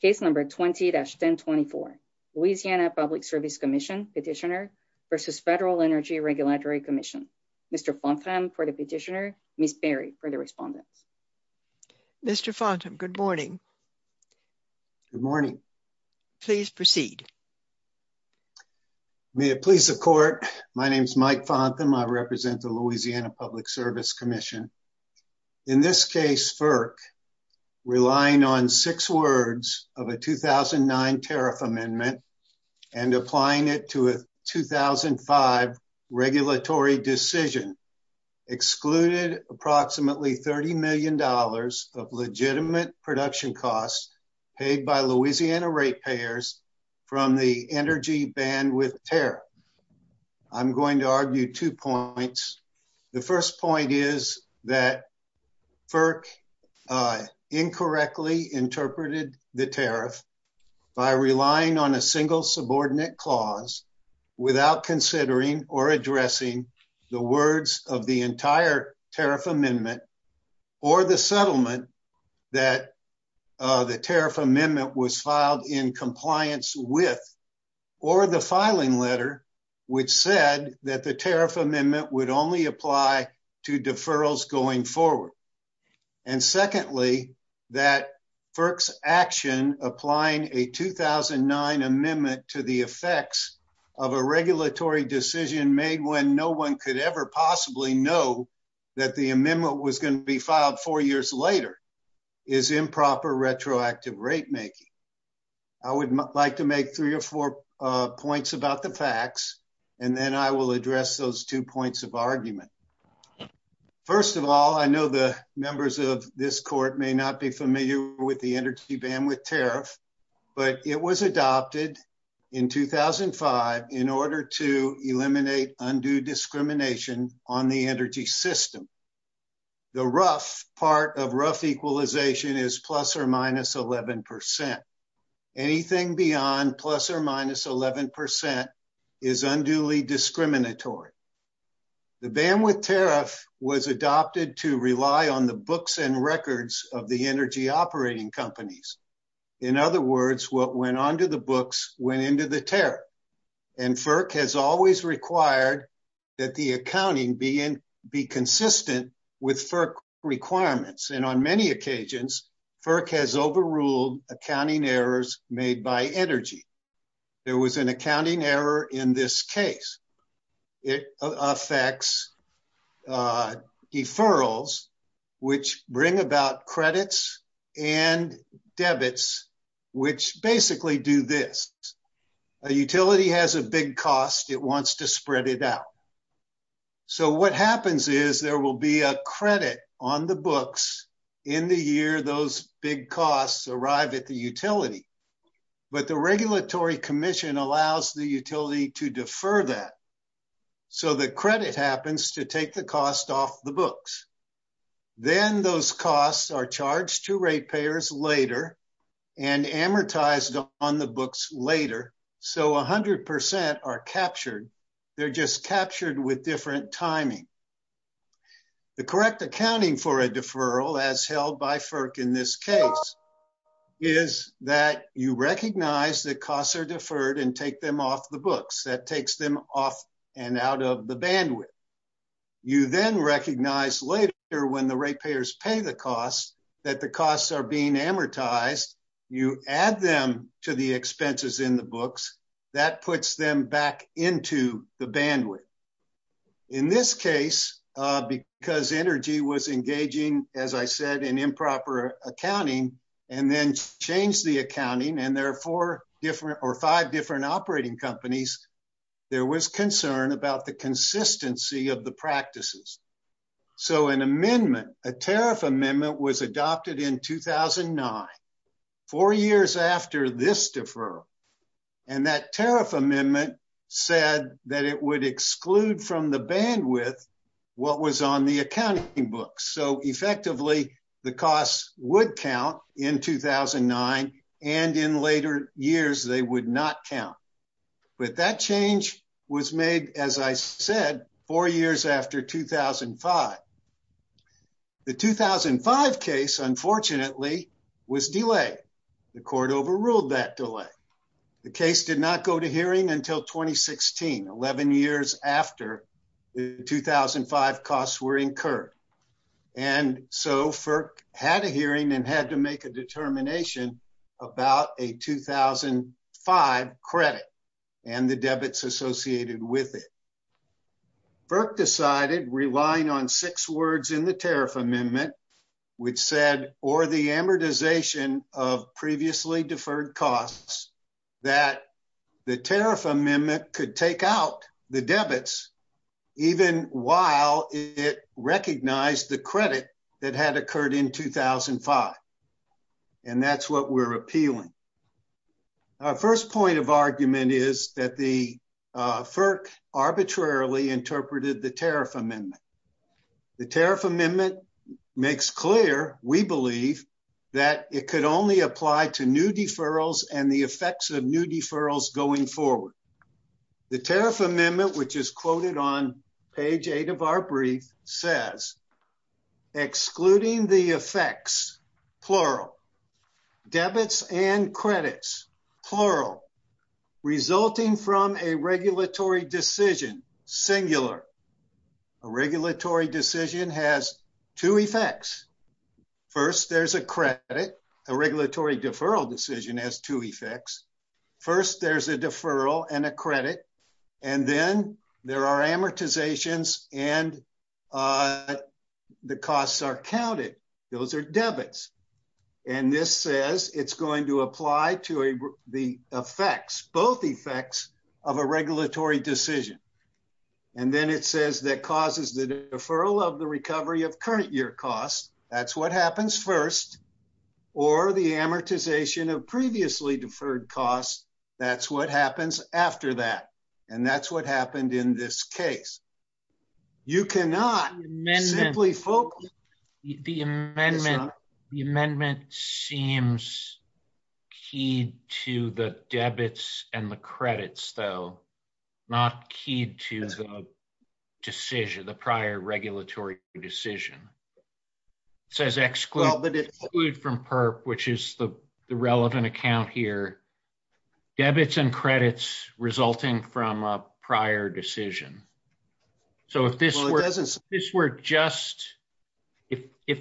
Case number 20-1024, Louisiana Public Service Commission Petitioner versus Federal Energy Regulatory Commission. Mr. Fontham for the petitioner, Ms. Berry for the respondent. Mr. Fontham, good morning. Good morning. Please proceed. May it please the court, my name is Mike Fontham, I represent the Louisiana Public Service Commission. In this case, FERC, relying on six words of a 2009 tariff amendment and applying it to a 2005 regulatory decision, excluded approximately $30 million of legitimate production costs paid by Louisiana ratepayers from the energy bandwidth tariff. I'm going to is that FERC incorrectly interpreted the tariff by relying on a single subordinate clause without considering or addressing the words of the entire tariff amendment or the settlement that the tariff amendment was filed in compliance with or the filing letter which said that the deferrals going forward. And secondly, that FERC's action applying a 2009 amendment to the effects of a regulatory decision made when no one could ever possibly know that the amendment was going to be filed four years later is improper retroactive rate making. I would like to make three or four points about the facts and then I will address those two points of argument. First of all, I know the members of this court may not be familiar with the energy bandwidth tariff, but it was adopted in 2005 in order to eliminate undue discrimination on the energy system. The rough part of rough equalization is plus or minus 11%. Anything beyond plus or minus 11% is unduly discriminatory. The bandwidth tariff was adopted to rely on the books and records of the energy operating companies. In other words, what went onto the books went into the tariff and FERC has always required that the accounting be consistent with FERC requirements. And on many occasions, FERC has overruled accounting errors made by energy. There was an accounting error in this case. It affects deferrals, which bring about credits and debits, which basically do this. A utility has a big cost, it wants to spread it out. So what happens is there will be a credit on the books in the year those big costs arrive at the utility. But the regulatory commission allows the utility to defer that. So the credit happens to take the cost off the books. Then those costs are charged to rate payers later and amortized on the books later. So 100% are captured. They're just captured with different timing. The correct accounting for a deferral as held by FERC in this case is that you recognize that costs are deferred and take them off the books. That takes them off and out of the bandwidth. You then recognize later when the rate payers pay the cost that the costs are being amortized. You add them to the expenses in the books. That puts them back into the bandwidth. In this case, because energy was engaging, as I said, in improper accounting and then changed the accounting, and there are four different or five different operating companies, there was concern about the consistency of the practices. So an amendment, a tariff amendment was adopted in 2009, four years after this deferral. That tariff amendment said that it would exclude from the bandwidth what was on the accounting books. So effectively, the costs would count in 2009 and in later years they would not count. But that change was made, as I said, four years after 2005. The 2005 case, unfortunately, was delayed. The court overruled that delay. The case did not go to hearing until 2016, 11 years after the 2005 costs were incurred. So FERC had a hearing and had to make a determination about a 2005 credit and the debits associated with it. FERC decided, relying on six words in the tariff amendment, which said, or the amortization of previously deferred costs, that the tariff amendment could take out the debits even while it recognized the credit that had occurred in 2005. And that's what we're appealing. Our first point of argument is that the FERC arbitrarily interpreted the tariff amendment. The tariff amendment makes clear, we believe, that it could only apply to new deferrals and the effects of new deferrals going forward. The tariff amendment, which is quoted on page 8 of our brief, says, excluding the effects, plural, debits and credits, plural, resulting from a regulatory decision, singular. A regulatory decision has two effects. First, there's a credit. A regulatory deferral decision has two effects. First, there's a deferral and a credit. And then there are amortizations and the costs are counted. Those are debits. And this says it's going to apply to the effects, both effects of a regulatory decision. And then it says that causes the deferral of the deferred costs. That's what happens after that. And that's what happened in this case. You cannot simply focus... The amendment seems key to the debits and the credits, though. Not key to the decision, the prior regulatory decision. It says exclude from PERP, which is the relevant account here, debits and credits resulting from a prior decision. If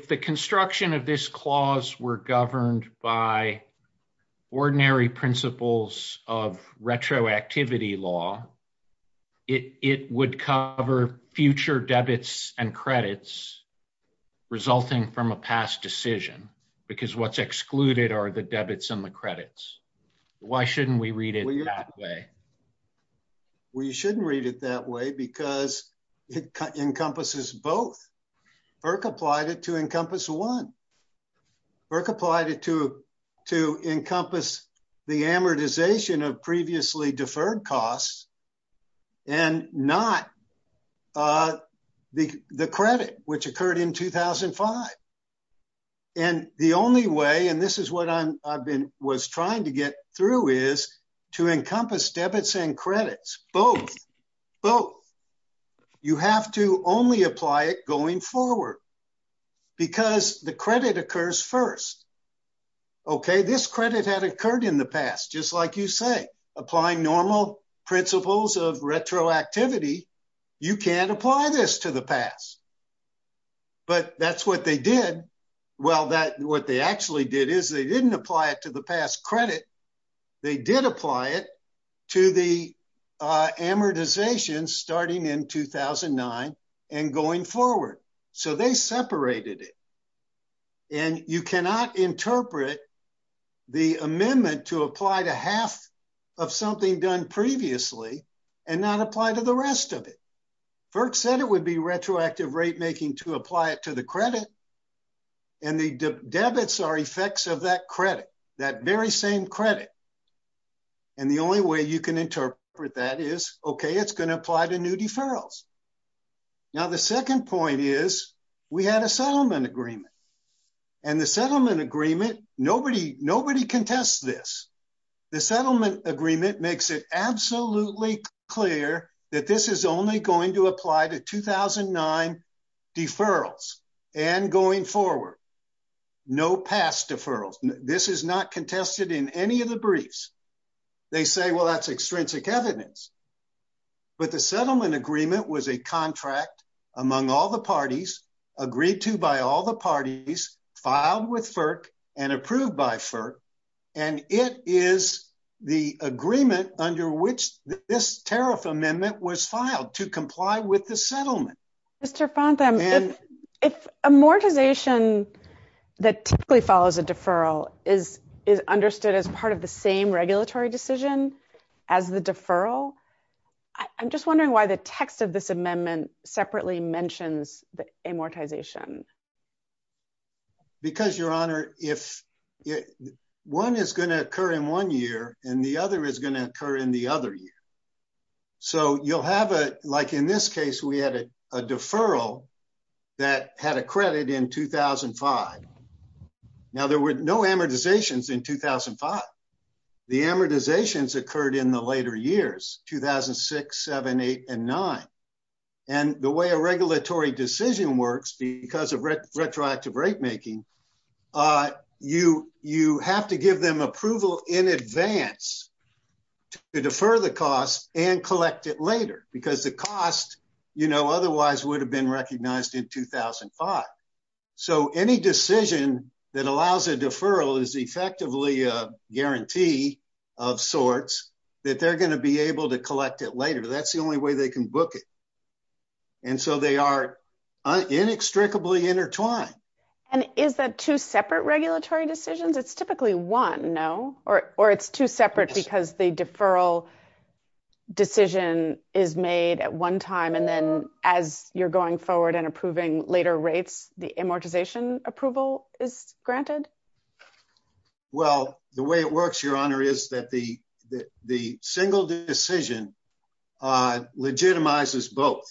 the construction of this clause were governed by ordinary principles of retroactivity law, it would cover future credits. Why shouldn't we read it that way? Well, you shouldn't read it that way because it encompasses both. IRC applied it to encompass one. IRC applied it to encompass the amortization of previously deferred costs and not the credit, which occurred in 2005. And the only way, and this is what I was trying to get through, is to encompass debits and credits, both, both. You have to only apply it going forward because the credit occurs first. Okay, this credit had occurred in the past, just like you say, applying normal principles of retroactivity. Well, what they actually did is they didn't apply it to the past credit. They did apply it to the amortization starting in 2009 and going forward. So, they separated it. And you cannot interpret the amendment to apply to half of something done previously and not apply to the rest of it. IRC said it would be retroactive rate making to apply it to the credit. And the debits are effects of that credit, that very same credit. And the only way you can interpret that is, okay, it's going to apply to new deferrals. Now, the second point is we had a settlement agreement. And the settlement agreement, nobody, nobody can test this. The settlement agreement makes it absolutely clear that this is only going to apply to 2009 deferrals and going forward. No past deferrals. This is not contested in any of the briefs. They say, well, that's extrinsic evidence. But the settlement agreement was a contract among all the parties, agreed to by all the parties, filed with FERC and approved by FERC. And it is the agreement under which this tariff amendment was filed to comply with the settlement. Mr. Fontham, if amortization that typically follows a deferral is understood as part of the same regulatory decision as the deferral, I'm just wondering why the text of this amendment separately mentions the amortization. Because, Your Honor, if one is going to occur in one year and the other is going to occur in the other year. So you'll have a, like in this case, we had a deferral that had a credit in 2005. Now, there were no amortizations in 2005. The amortizations occurred in the later years, 2006, 7, 8, and 9. And the way a regulatory decision works because of retroactive rate making, you have to give them approval in advance to defer the cost and collect it later. Because the cost, you know, otherwise would have been recognized in 2005. So any decision that allows a deferral is effectively a guarantee of sorts that they're going to be able to collect it later. That's the only way they can book it. And so they are inextricably intertwined. And is that two separate regulatory decisions? It's typically one, no? Or it's two separate because the deferral decision is made at one time and then as you're going forward and approving later rates, the amortization approval is granted? Well, the way it works, Your Honor, is that the single decision legitimizes both.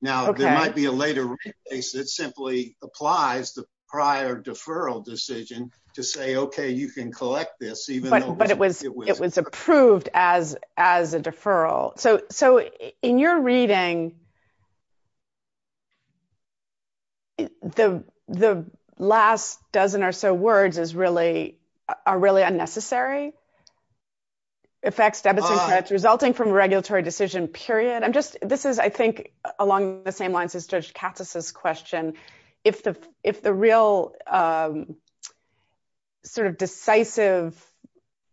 Now, there might be a later rate case that simply applies the prior deferral decision to say, okay, you can collect this even though it wasn't. It was approved as a deferral. So in your reading, the last dozen or so words are really unnecessary. Effects, debits, and credits resulting from regulatory decision, period. This is, I think, along the same lines as Judge Katsas' question. If the real sort of decisive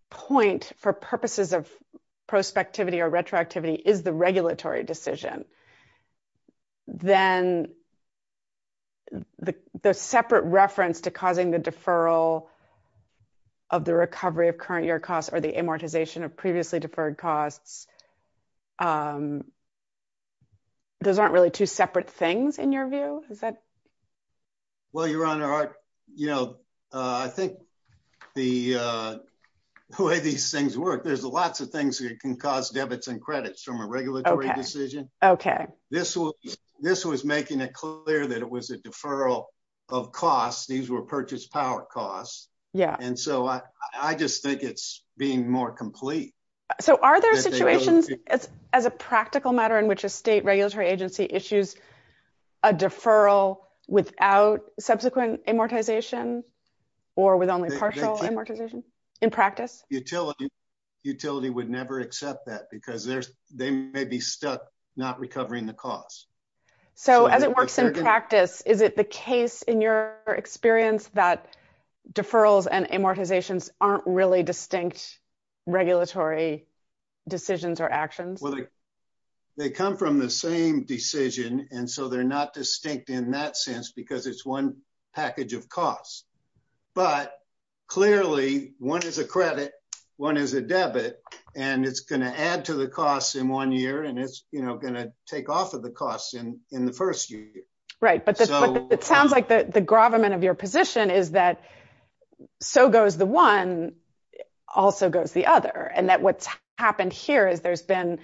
point for purposes of prospectivity or retroactivity is the regulatory decision, then the separate reference to causing the deferral of the recovery of current year costs, those aren't really two separate things in your view? Well, Your Honor, I think the way these things work, there's lots of things that can cause debits and credits from a regulatory decision. This was making it clear that it was a deferral of costs. These were purchased power costs. And so I just think it's being more complete. So are there situations as a practical matter in which a state regulatory agency issues a deferral without subsequent amortization or with only partial amortization in practice? Utility would never accept that because they may be stuck not recovering the costs. So as it works in practice, is it the case in your experience that deferrals and amortizations aren't really distinct regulatory decisions or actions? They come from the same decision, and so they're not distinct in that sense because it's one package of costs. But clearly, one is a credit, one is a debit, and it's going to add to the costs in one year, and it's going to take off of the costs in the first year. Right. But it sounds like the gravamen of your position is that so goes the one, also goes the other, and that what's happened here is there's been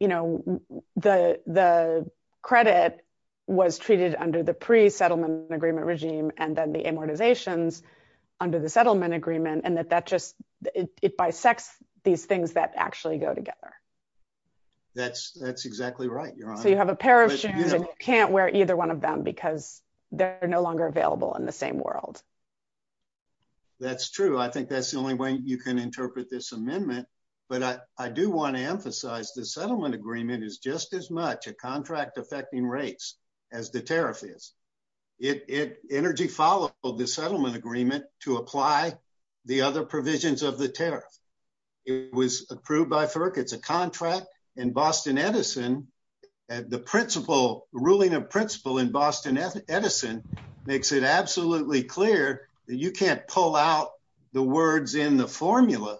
the credit was treated under the pre-settlement agreement regime and then the amortizations under the settlement agreement, and that it bisects these things that actually go together. That's exactly right, Your Honor. You have a pair of shoes and you can't wear either one of them because they're no longer available in the same world. That's true. I think that's the only way you can interpret this amendment. But I do want to emphasize the settlement agreement is just as much a contract affecting rates as the tariff is. Energy followed the settlement agreement to apply the other provisions of the tariff. It was approved by FERC. It's a contract in Boston Edison. The ruling of principle in Boston Edison makes it absolutely clear that you can't pull out the words in the formula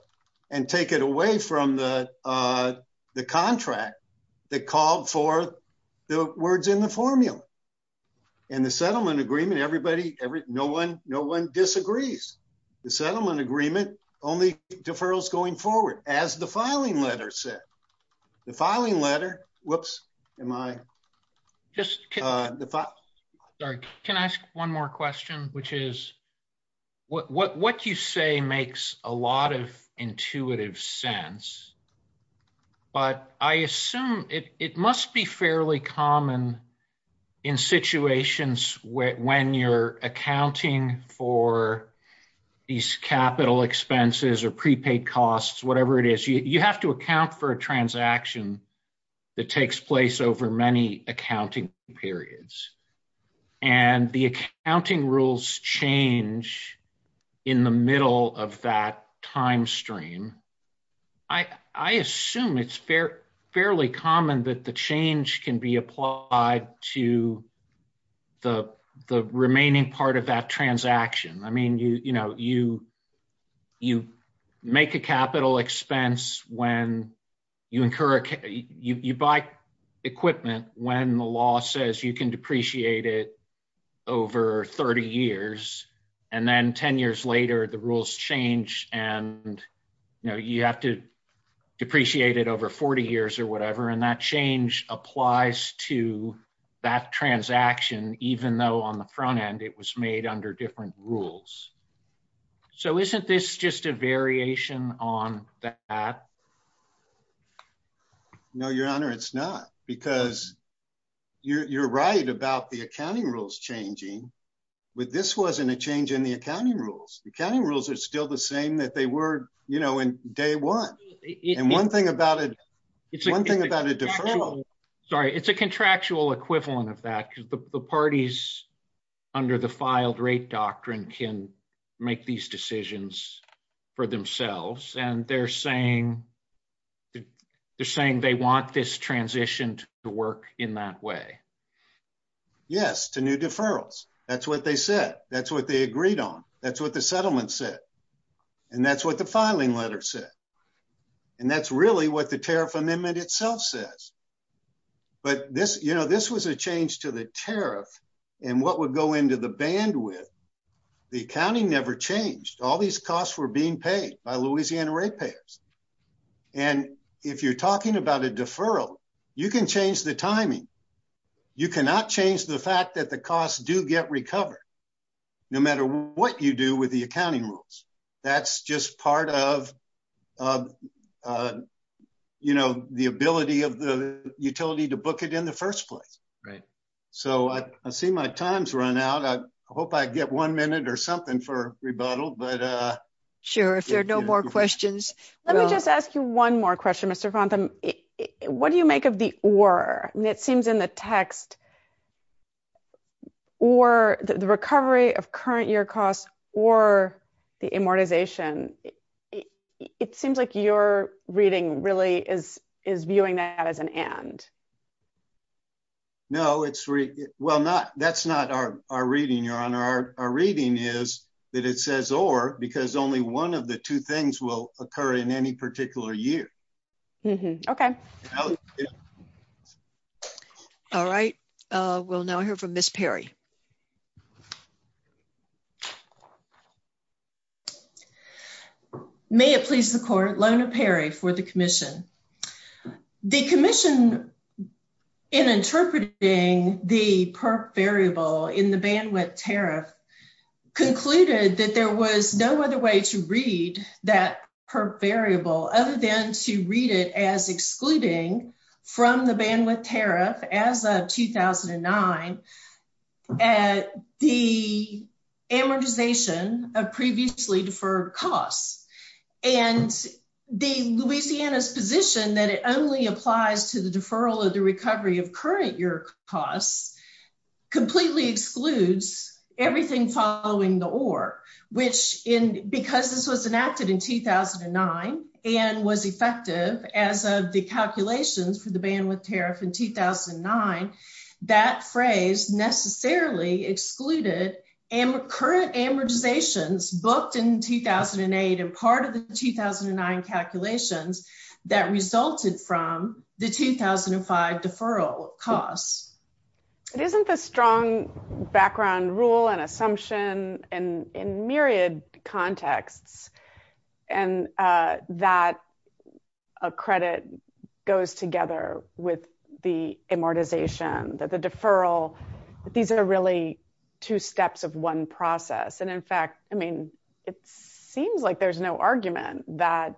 and take it away from the contract that called for the words in the formula. In the settlement agreement, no one disagrees. The settlement agreement only deferrals going forward, as the filing letter said. The filing letter, whoops, am I? Sorry, can I ask one more question, which is what you say makes a lot of intuitive sense, but I assume it must be fairly common in situations when you're accounting for these capital expenses or prepaid costs, whatever it is, you have to account for a transaction that takes place over many accounting periods. The accounting rules change in the middle of that time stream. I assume it's fairly common that the change can be applied to the remaining part of that transaction. You buy equipment when the law says you can depreciate it over 30 years. Then 10 years later, the rules change and you have to apply to that transaction, even though on the front end it was made under different rules. Isn't this just a variation on that? No, your honor, it's not. You're right about the accounting rules changing, but this wasn't a change in the accounting rules. The accounting rules are still the same that they were in day one. One thing about a deferral. Sorry, it's a contractual equivalent of that because the parties under the filed rate doctrine can make these decisions for themselves. They're saying they want this transition to work in that way. Yes, to new deferrals. That's what they said. That's what they agreed on. That's what the filing letter said. That's really what the tariff amendment itself says. This was a change to the tariff and what would go into the bandwidth. The accounting never changed. All these costs were being paid by Louisiana rate payers. If you're talking about a deferral, you can change the timing. You cannot change the fact that the costs do get recovered, no matter what you do with the accounting rules. That's just part of the ability of the utility to book it in the first place. I see my time's run out. I hope I get one minute or something for rebuttal. Sure, if there are no more questions. Let me just ask you one more question, Mr. Fontham. What do you make of the or? It seems in the text, the recovery of current year costs or the amortization, it seems like your reading really is viewing that as an and. No, that's not our reading, Your Honor. Our reading is that it says or because only one of the two things will occur in any particular year. Okay. All right. We'll now hear from Ms. Perry. May it please the court, Lona Perry for the commission. The commission in interpreting the perp variable in the bandwidth tariff concluded that there was no other way to read that perp variable other than to read it as excluding from the bandwidth tariff as of 2009 at the amortization of previously deferred costs and the Louisiana's position that it only applies to the deferral of the recovery of current year costs completely excludes everything following the or, which in because this was enacted in 2009 and was effective as of the calculations for the bandwidth tariff in 2009, that phrase necessarily excluded current amortizations booked in 2008 and part of the 2009 calculations that resulted from the 2005 deferral costs. It isn't a strong background rule and assumption and in myriad contexts and that a credit goes together with the amortization that the deferral, these are really two steps of one process. And in fact, I mean, it seems like there's no argument that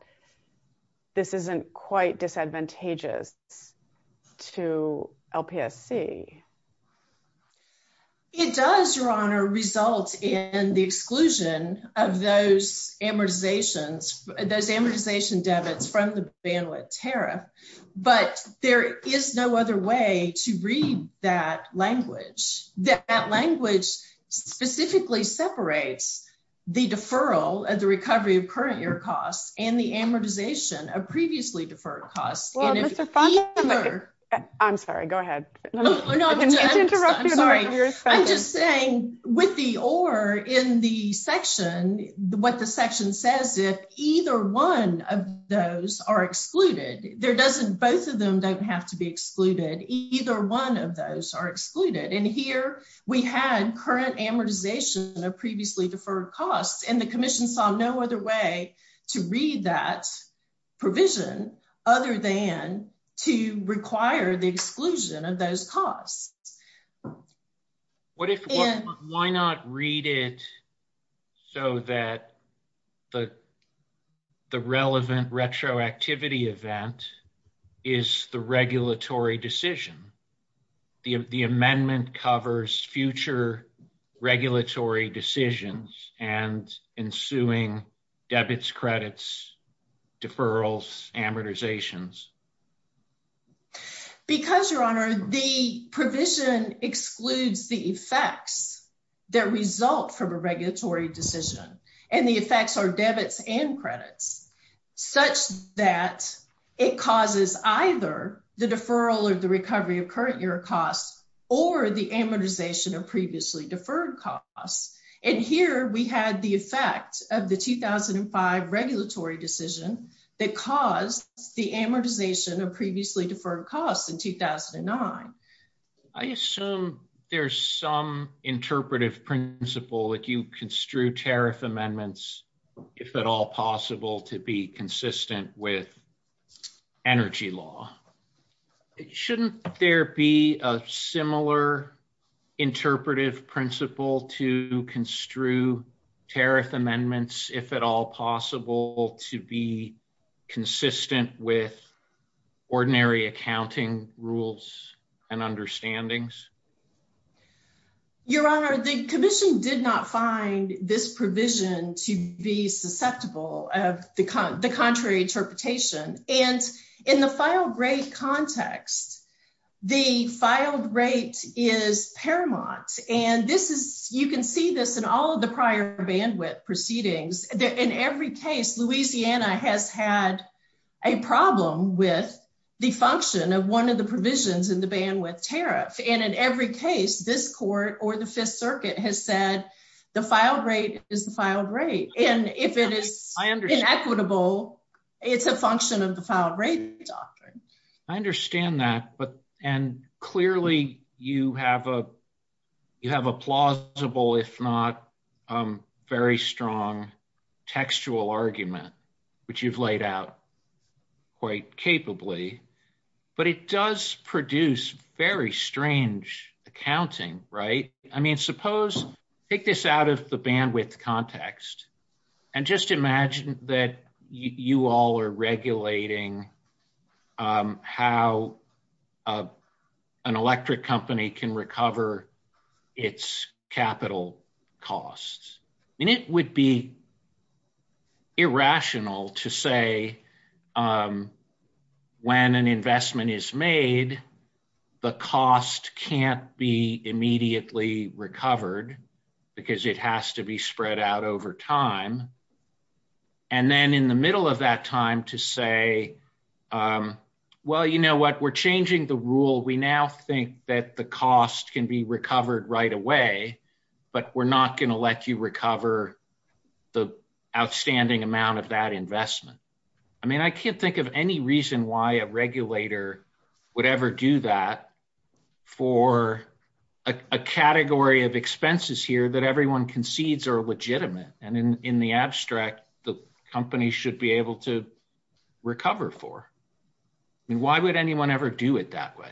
this isn't quite disadvantageous to LPSC. It does, Your Honor, result in the exclusion of those amortizations, those amortization debits from the bandwidth tariff, but there is no other way to read that language. That language specifically separates the deferral of the recovery of current costs and the amortization of previously deferred costs. I'm sorry, go ahead. I'm just saying with the or in the section, what the section says, if either one of those are excluded, there doesn't, both of them don't have to be excluded. Either one of those are excluded. And here we had current amortization of previously deferred costs and the commission saw no other way to read that provision other than to require the exclusion of those costs. What if, why not read it so that the relevant retroactivity event is the regulatory decision? The amendment covers future regulatory decisions and ensuing debits, credits, deferrals, amortizations. Because, Your Honor, the provision excludes the effects that result from a regulatory decision and the effects are debits and credits such that it causes either the deferral or the recovery of current year costs or the amortization of previously deferred costs. And here we had the effect of the 2005 regulatory decision that caused the amortization of previously deferred costs in 2009. I assume there's some interpretive principle that you use to construe tariff amendments, if at all possible, to be consistent with energy law. Shouldn't there be a similar interpretive principle to construe tariff amendments, if at all possible, to be consistent with ordinary accounting rules and understandings? Your Honor, the commission did not find this provision to be susceptible of the contrary interpretation. And in the filed rate context, the filed rate is paramount. And this is, you can see this in all of the prior bandwidth proceedings. In every case, Louisiana has had a problem with the function of one of the provisions in the bandwidth tariff. And in every case, this court or the Fifth Circuit has said the filed rate is the filed rate. And if it is inequitable, it's a function of the filed rate doctrine. I understand that. And clearly, you have a plausible, if not very strong textual argument, which you've laid out quite capably. But it does produce very strange accounting, right? I mean, suppose, take this out of the bandwidth context. And just imagine that you all are regulating how an electric company can recover its capital costs. And it would be irrational to say when an investment is made, the cost can't be immediately recovered, because it has to be compensated. Well, you know what, we're changing the rule. We now think that the cost can be recovered right away. But we're not going to let you recover the outstanding amount of that investment. I mean, I can't think of any reason why a regulator would ever do that for a category of expenses here that everyone concedes are legitimate. And in the abstract, the company should be able to recover for. Why would anyone ever do it that way?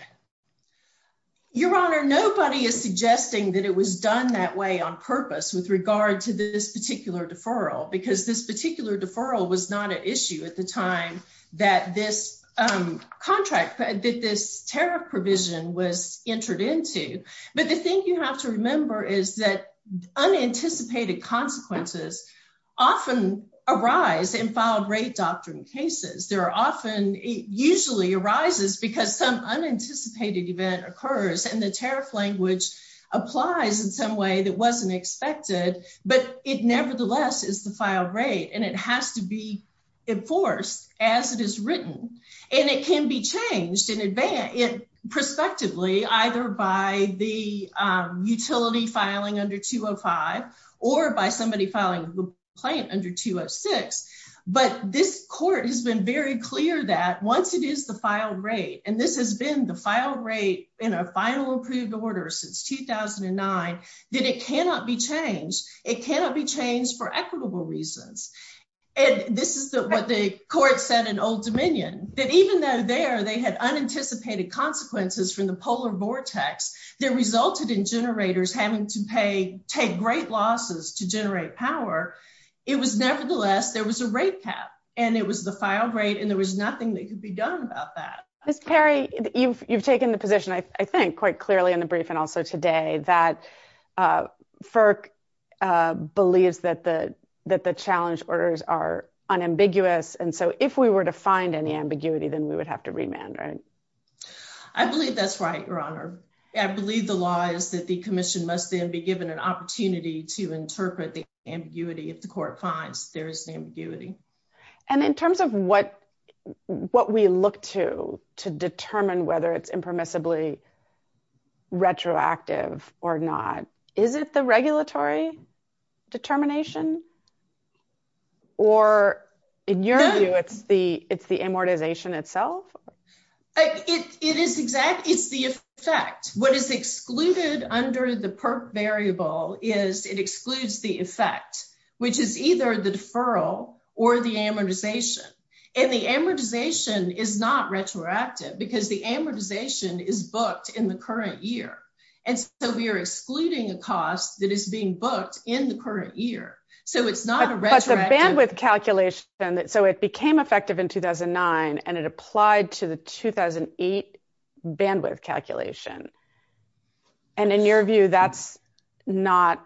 Your Honor, nobody is suggesting that it was done that way on purpose with regard to this particular deferral, because this particular deferral was not an issue at the time that this contract, that this tariff provision was entered into. But the thing you have to remember is that unanticipated consequences often arise in filed rate doctrine cases. It usually arises because some unanticipated event occurs, and the tariff language applies in some way that wasn't expected. But it nevertheless is the filed rate, and it has to be enforced as it is written. And it can be changed in advance, prospectively, either by the utility filing under 205 or by somebody filing a complaint under 206. But this court has been very clear that once it is the filed rate, and this has been the filed rate in a final approved order since 2009, that it cannot be changed. It cannot be changed for equitable reasons. And this is what the court said in that even though there they had unanticipated consequences from the polar vortex that resulted in generators having to pay, take great losses to generate power, it was nevertheless, there was a rate cap, and it was the filed rate, and there was nothing that could be done about that. Ms. Carey, you've taken the position, I think, quite clearly in the briefing also today that FERC believes that the challenge orders are unambiguous. And so if we were to find any ambiguity, then we would have to remand, right? I believe that's right, Your Honor. I believe the law is that the commission must then be given an opportunity to interpret the ambiguity if the court finds there is ambiguity. And in terms of what we look to determine whether it's impermissibly retroactive or not, is it the regulatory determination? Or in your view, it's the amortization itself? It is the effect. What is excluded under the PERC variable is it excludes the effect, which is either the deferral or the amortization. And the amortization is not in the current year. And so we are excluding a cost that is being booked in the current year. So it's not a retroactive- But the bandwidth calculation, so it became effective in 2009, and it applied to the 2008 bandwidth calculation. And in your view, that's not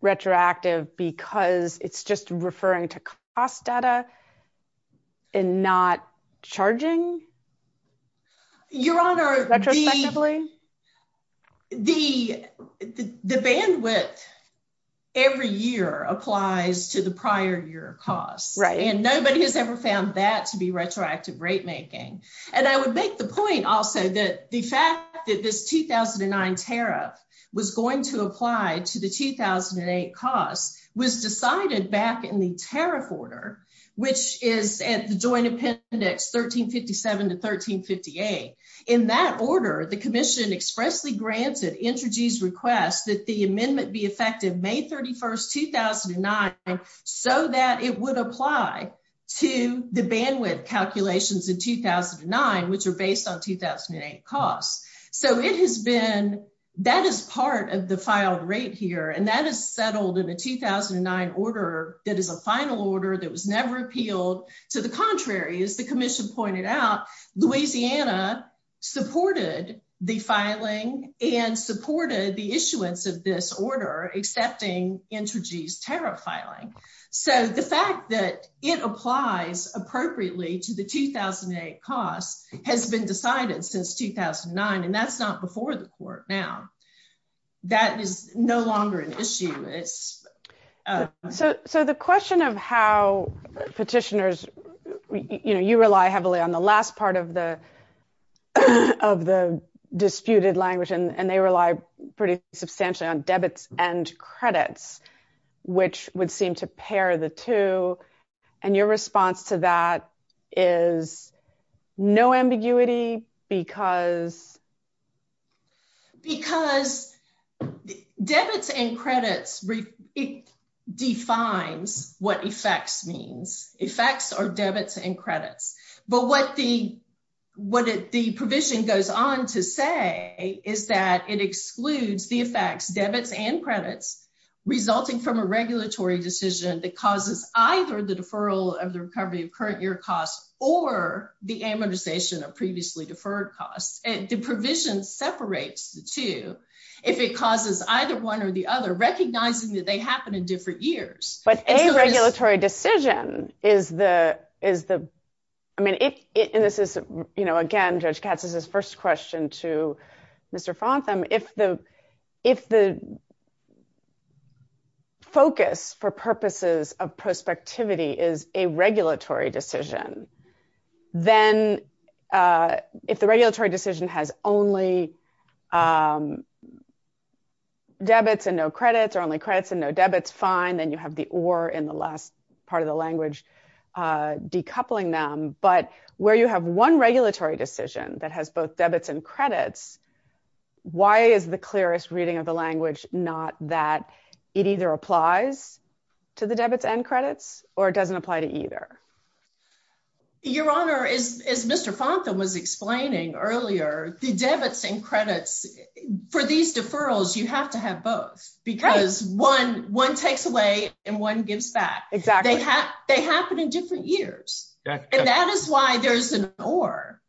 retroactive because it's just referring to cost data and not charging? Your Honor, the bandwidth every year applies to the prior year cost, and nobody has ever found that to be retroactive rate making. And I would make the point also that the fact that this 2009 tariff was going to apply to the 2008 cost was decided back in the tariff order, which is at the Joint Appendix 1357 to 1358. In that order, the Commission expressly granted Entergy's request that the amendment be effective May 31, 2009, so that it would apply to the bandwidth calculations in 2009, which are based on 2008 costs. So that is part of the filed rate here, and that is settled in a 2009 order that is a final order that was never appealed. To the contrary, as the Commission pointed out, Louisiana supported the filing and supported the issuance of this order, accepting Entergy's tariff filing. So the fact that it applies appropriately to the 2008 cost has been decided since 2009, and that's not before the Court now. That is no longer an issue. So the question of how petitioners, you know, you rely heavily on the last part of the disputed language, and they rely pretty substantially on debits and credits, which would seem to pair the two. And your response to that is no ambiguity because? Because debits and credits, it defines what effects means. Effects are debits and credits. But what the provision goes on to say is that it excludes the effects, debits and credits, resulting from a regulatory decision that causes either the deferral of the recovery of current year costs or the amortization of previously deferred costs. The provision separates the two if it causes either one or the other, recognizing that they happen in different years. But a regulatory decision is the, I mean, and this is, you know, again, Judge Katz's first question to Mr. Fontham, if the focus for purposes of prospectivity is a regulatory decision, then if the regulatory decision has only debits and no credits or only credits and no debits, fine, then you have the or in the last part of the language decoupling them. But where you have one regulatory decision that has both debits and credits, why is the clearest reading of the language not that it either applies to the debits and credits or it doesn't apply to either? Your Honor, as Mr. Fontham was explaining earlier, the debits and credits, for these deferrals, you have to have both because one takes away and one gives back. Exactly. They happen in or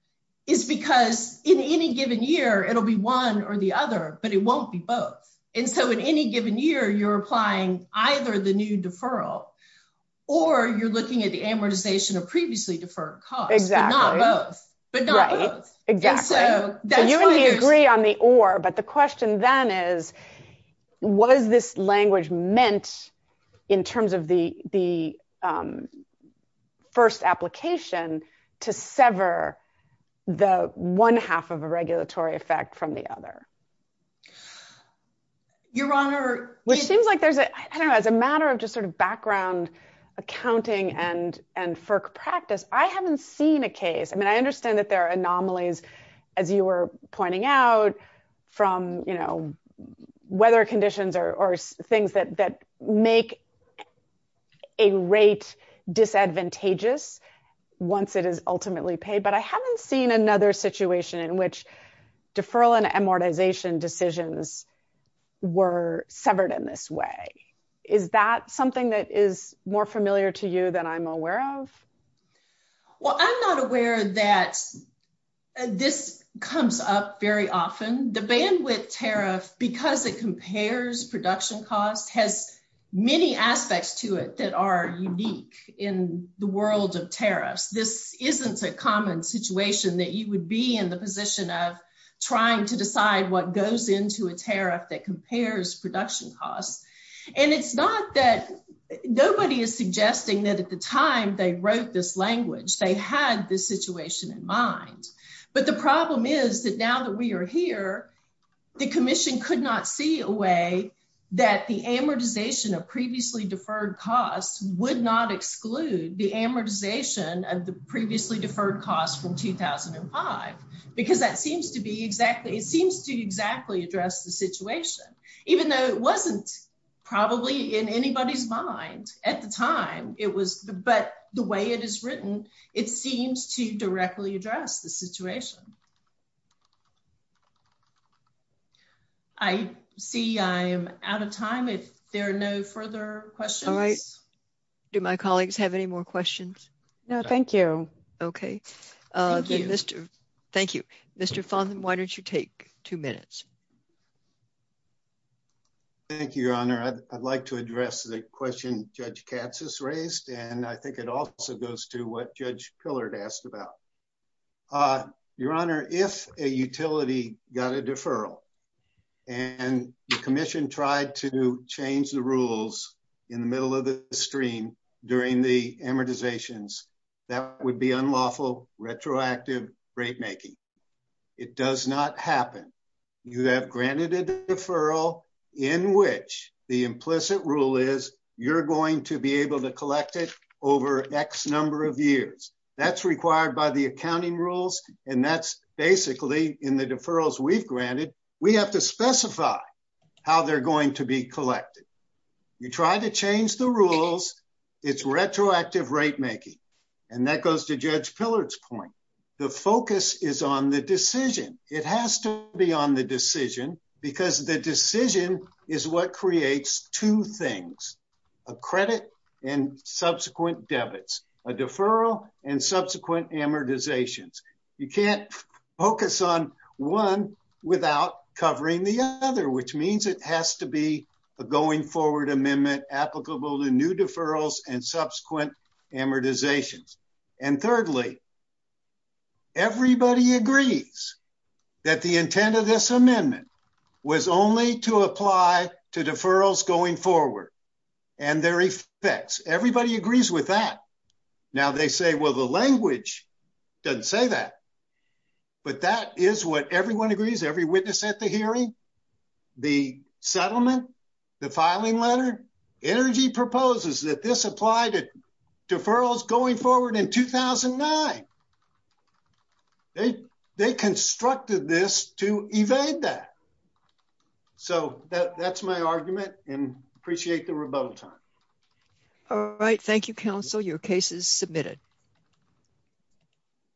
is because in any given year, it'll be one or the other, but it won't be both. And so in any given year, you're applying either the new deferral or you're looking at the amortization of previously deferred costs. Exactly. But not both. But not both. Right, exactly. So you and me agree on the or, but the question then is, was this language meant, in terms of the first application, to sever the one half of a regulatory effect from the other? Your Honor... Which seems like there's a, I don't know, as a matter of just sort of background accounting and FERC practice, I haven't seen a case. I mean, I understand that there are anomalies, as you were pointing out, from weather conditions or things that make a rate disadvantageous once it is ultimately paid, but I haven't seen another situation in which deferral and amortization decisions were severed in this way. Is that something that is more familiar to you than I'm aware of? Well, I'm not aware that this comes up very often. The bandwidth tariff, because it compares production costs, has many aspects to it that are unique in the world of tariffs. This isn't a common situation that you would be in the position of trying to decide what goes into a tariff that compares production costs. And it's not that nobody is suggesting that at the time they wrote this language, they had this situation in mind. But the problem is that now that we are here, the Commission could not see a way that the amortization of previously deferred costs would not exclude the amortization of the previously deferred costs from 2005, because that seems to be exactly, it seems to exactly address the at the time. But the way it is written, it seems to directly address the situation. I see I am out of time if there are no further questions. All right. Do my colleagues have any more questions? No, thank you. Okay. Thank you. Mr. Fonthan, why don't you take two minutes? Thank you, Your Honor. I'd like to address the question Judge Katz has raised, and I think it also goes to what Judge Pillard asked about. Your Honor, if a utility got a deferral, and the Commission tried to change the rules in the middle of the stream during the amortizations, that would unlawful retroactive rate making. It does not happen. You have granted a deferral in which the implicit rule is you're going to be able to collect it over X number of years. That's required by the accounting rules, and that's basically in the deferrals we've granted, we have to specify how they're going to be collected. You try to change the rules, it's retroactive rate making, and that goes to Judge Pillard's point. The focus is on the decision. It has to be on the decision because the decision is what creates two things, a credit and subsequent debits, a deferral and subsequent amortizations. You can't focus on one without covering the other, which means it has to going forward amendment applicable to new deferrals and subsequent amortizations. Thirdly, everybody agrees that the intent of this amendment was only to apply to deferrals going forward and their effects. Everybody agrees with that. Now they say, well, the language doesn't say that, but that is what everyone agrees, every witness at the hearing, the settlement, the filing letter, energy proposes that this apply to deferrals going forward in 2009. They constructed this to evade that. So that's my argument and appreciate the rebuttal time. All right. Thank you, counsel. Your case is submitted.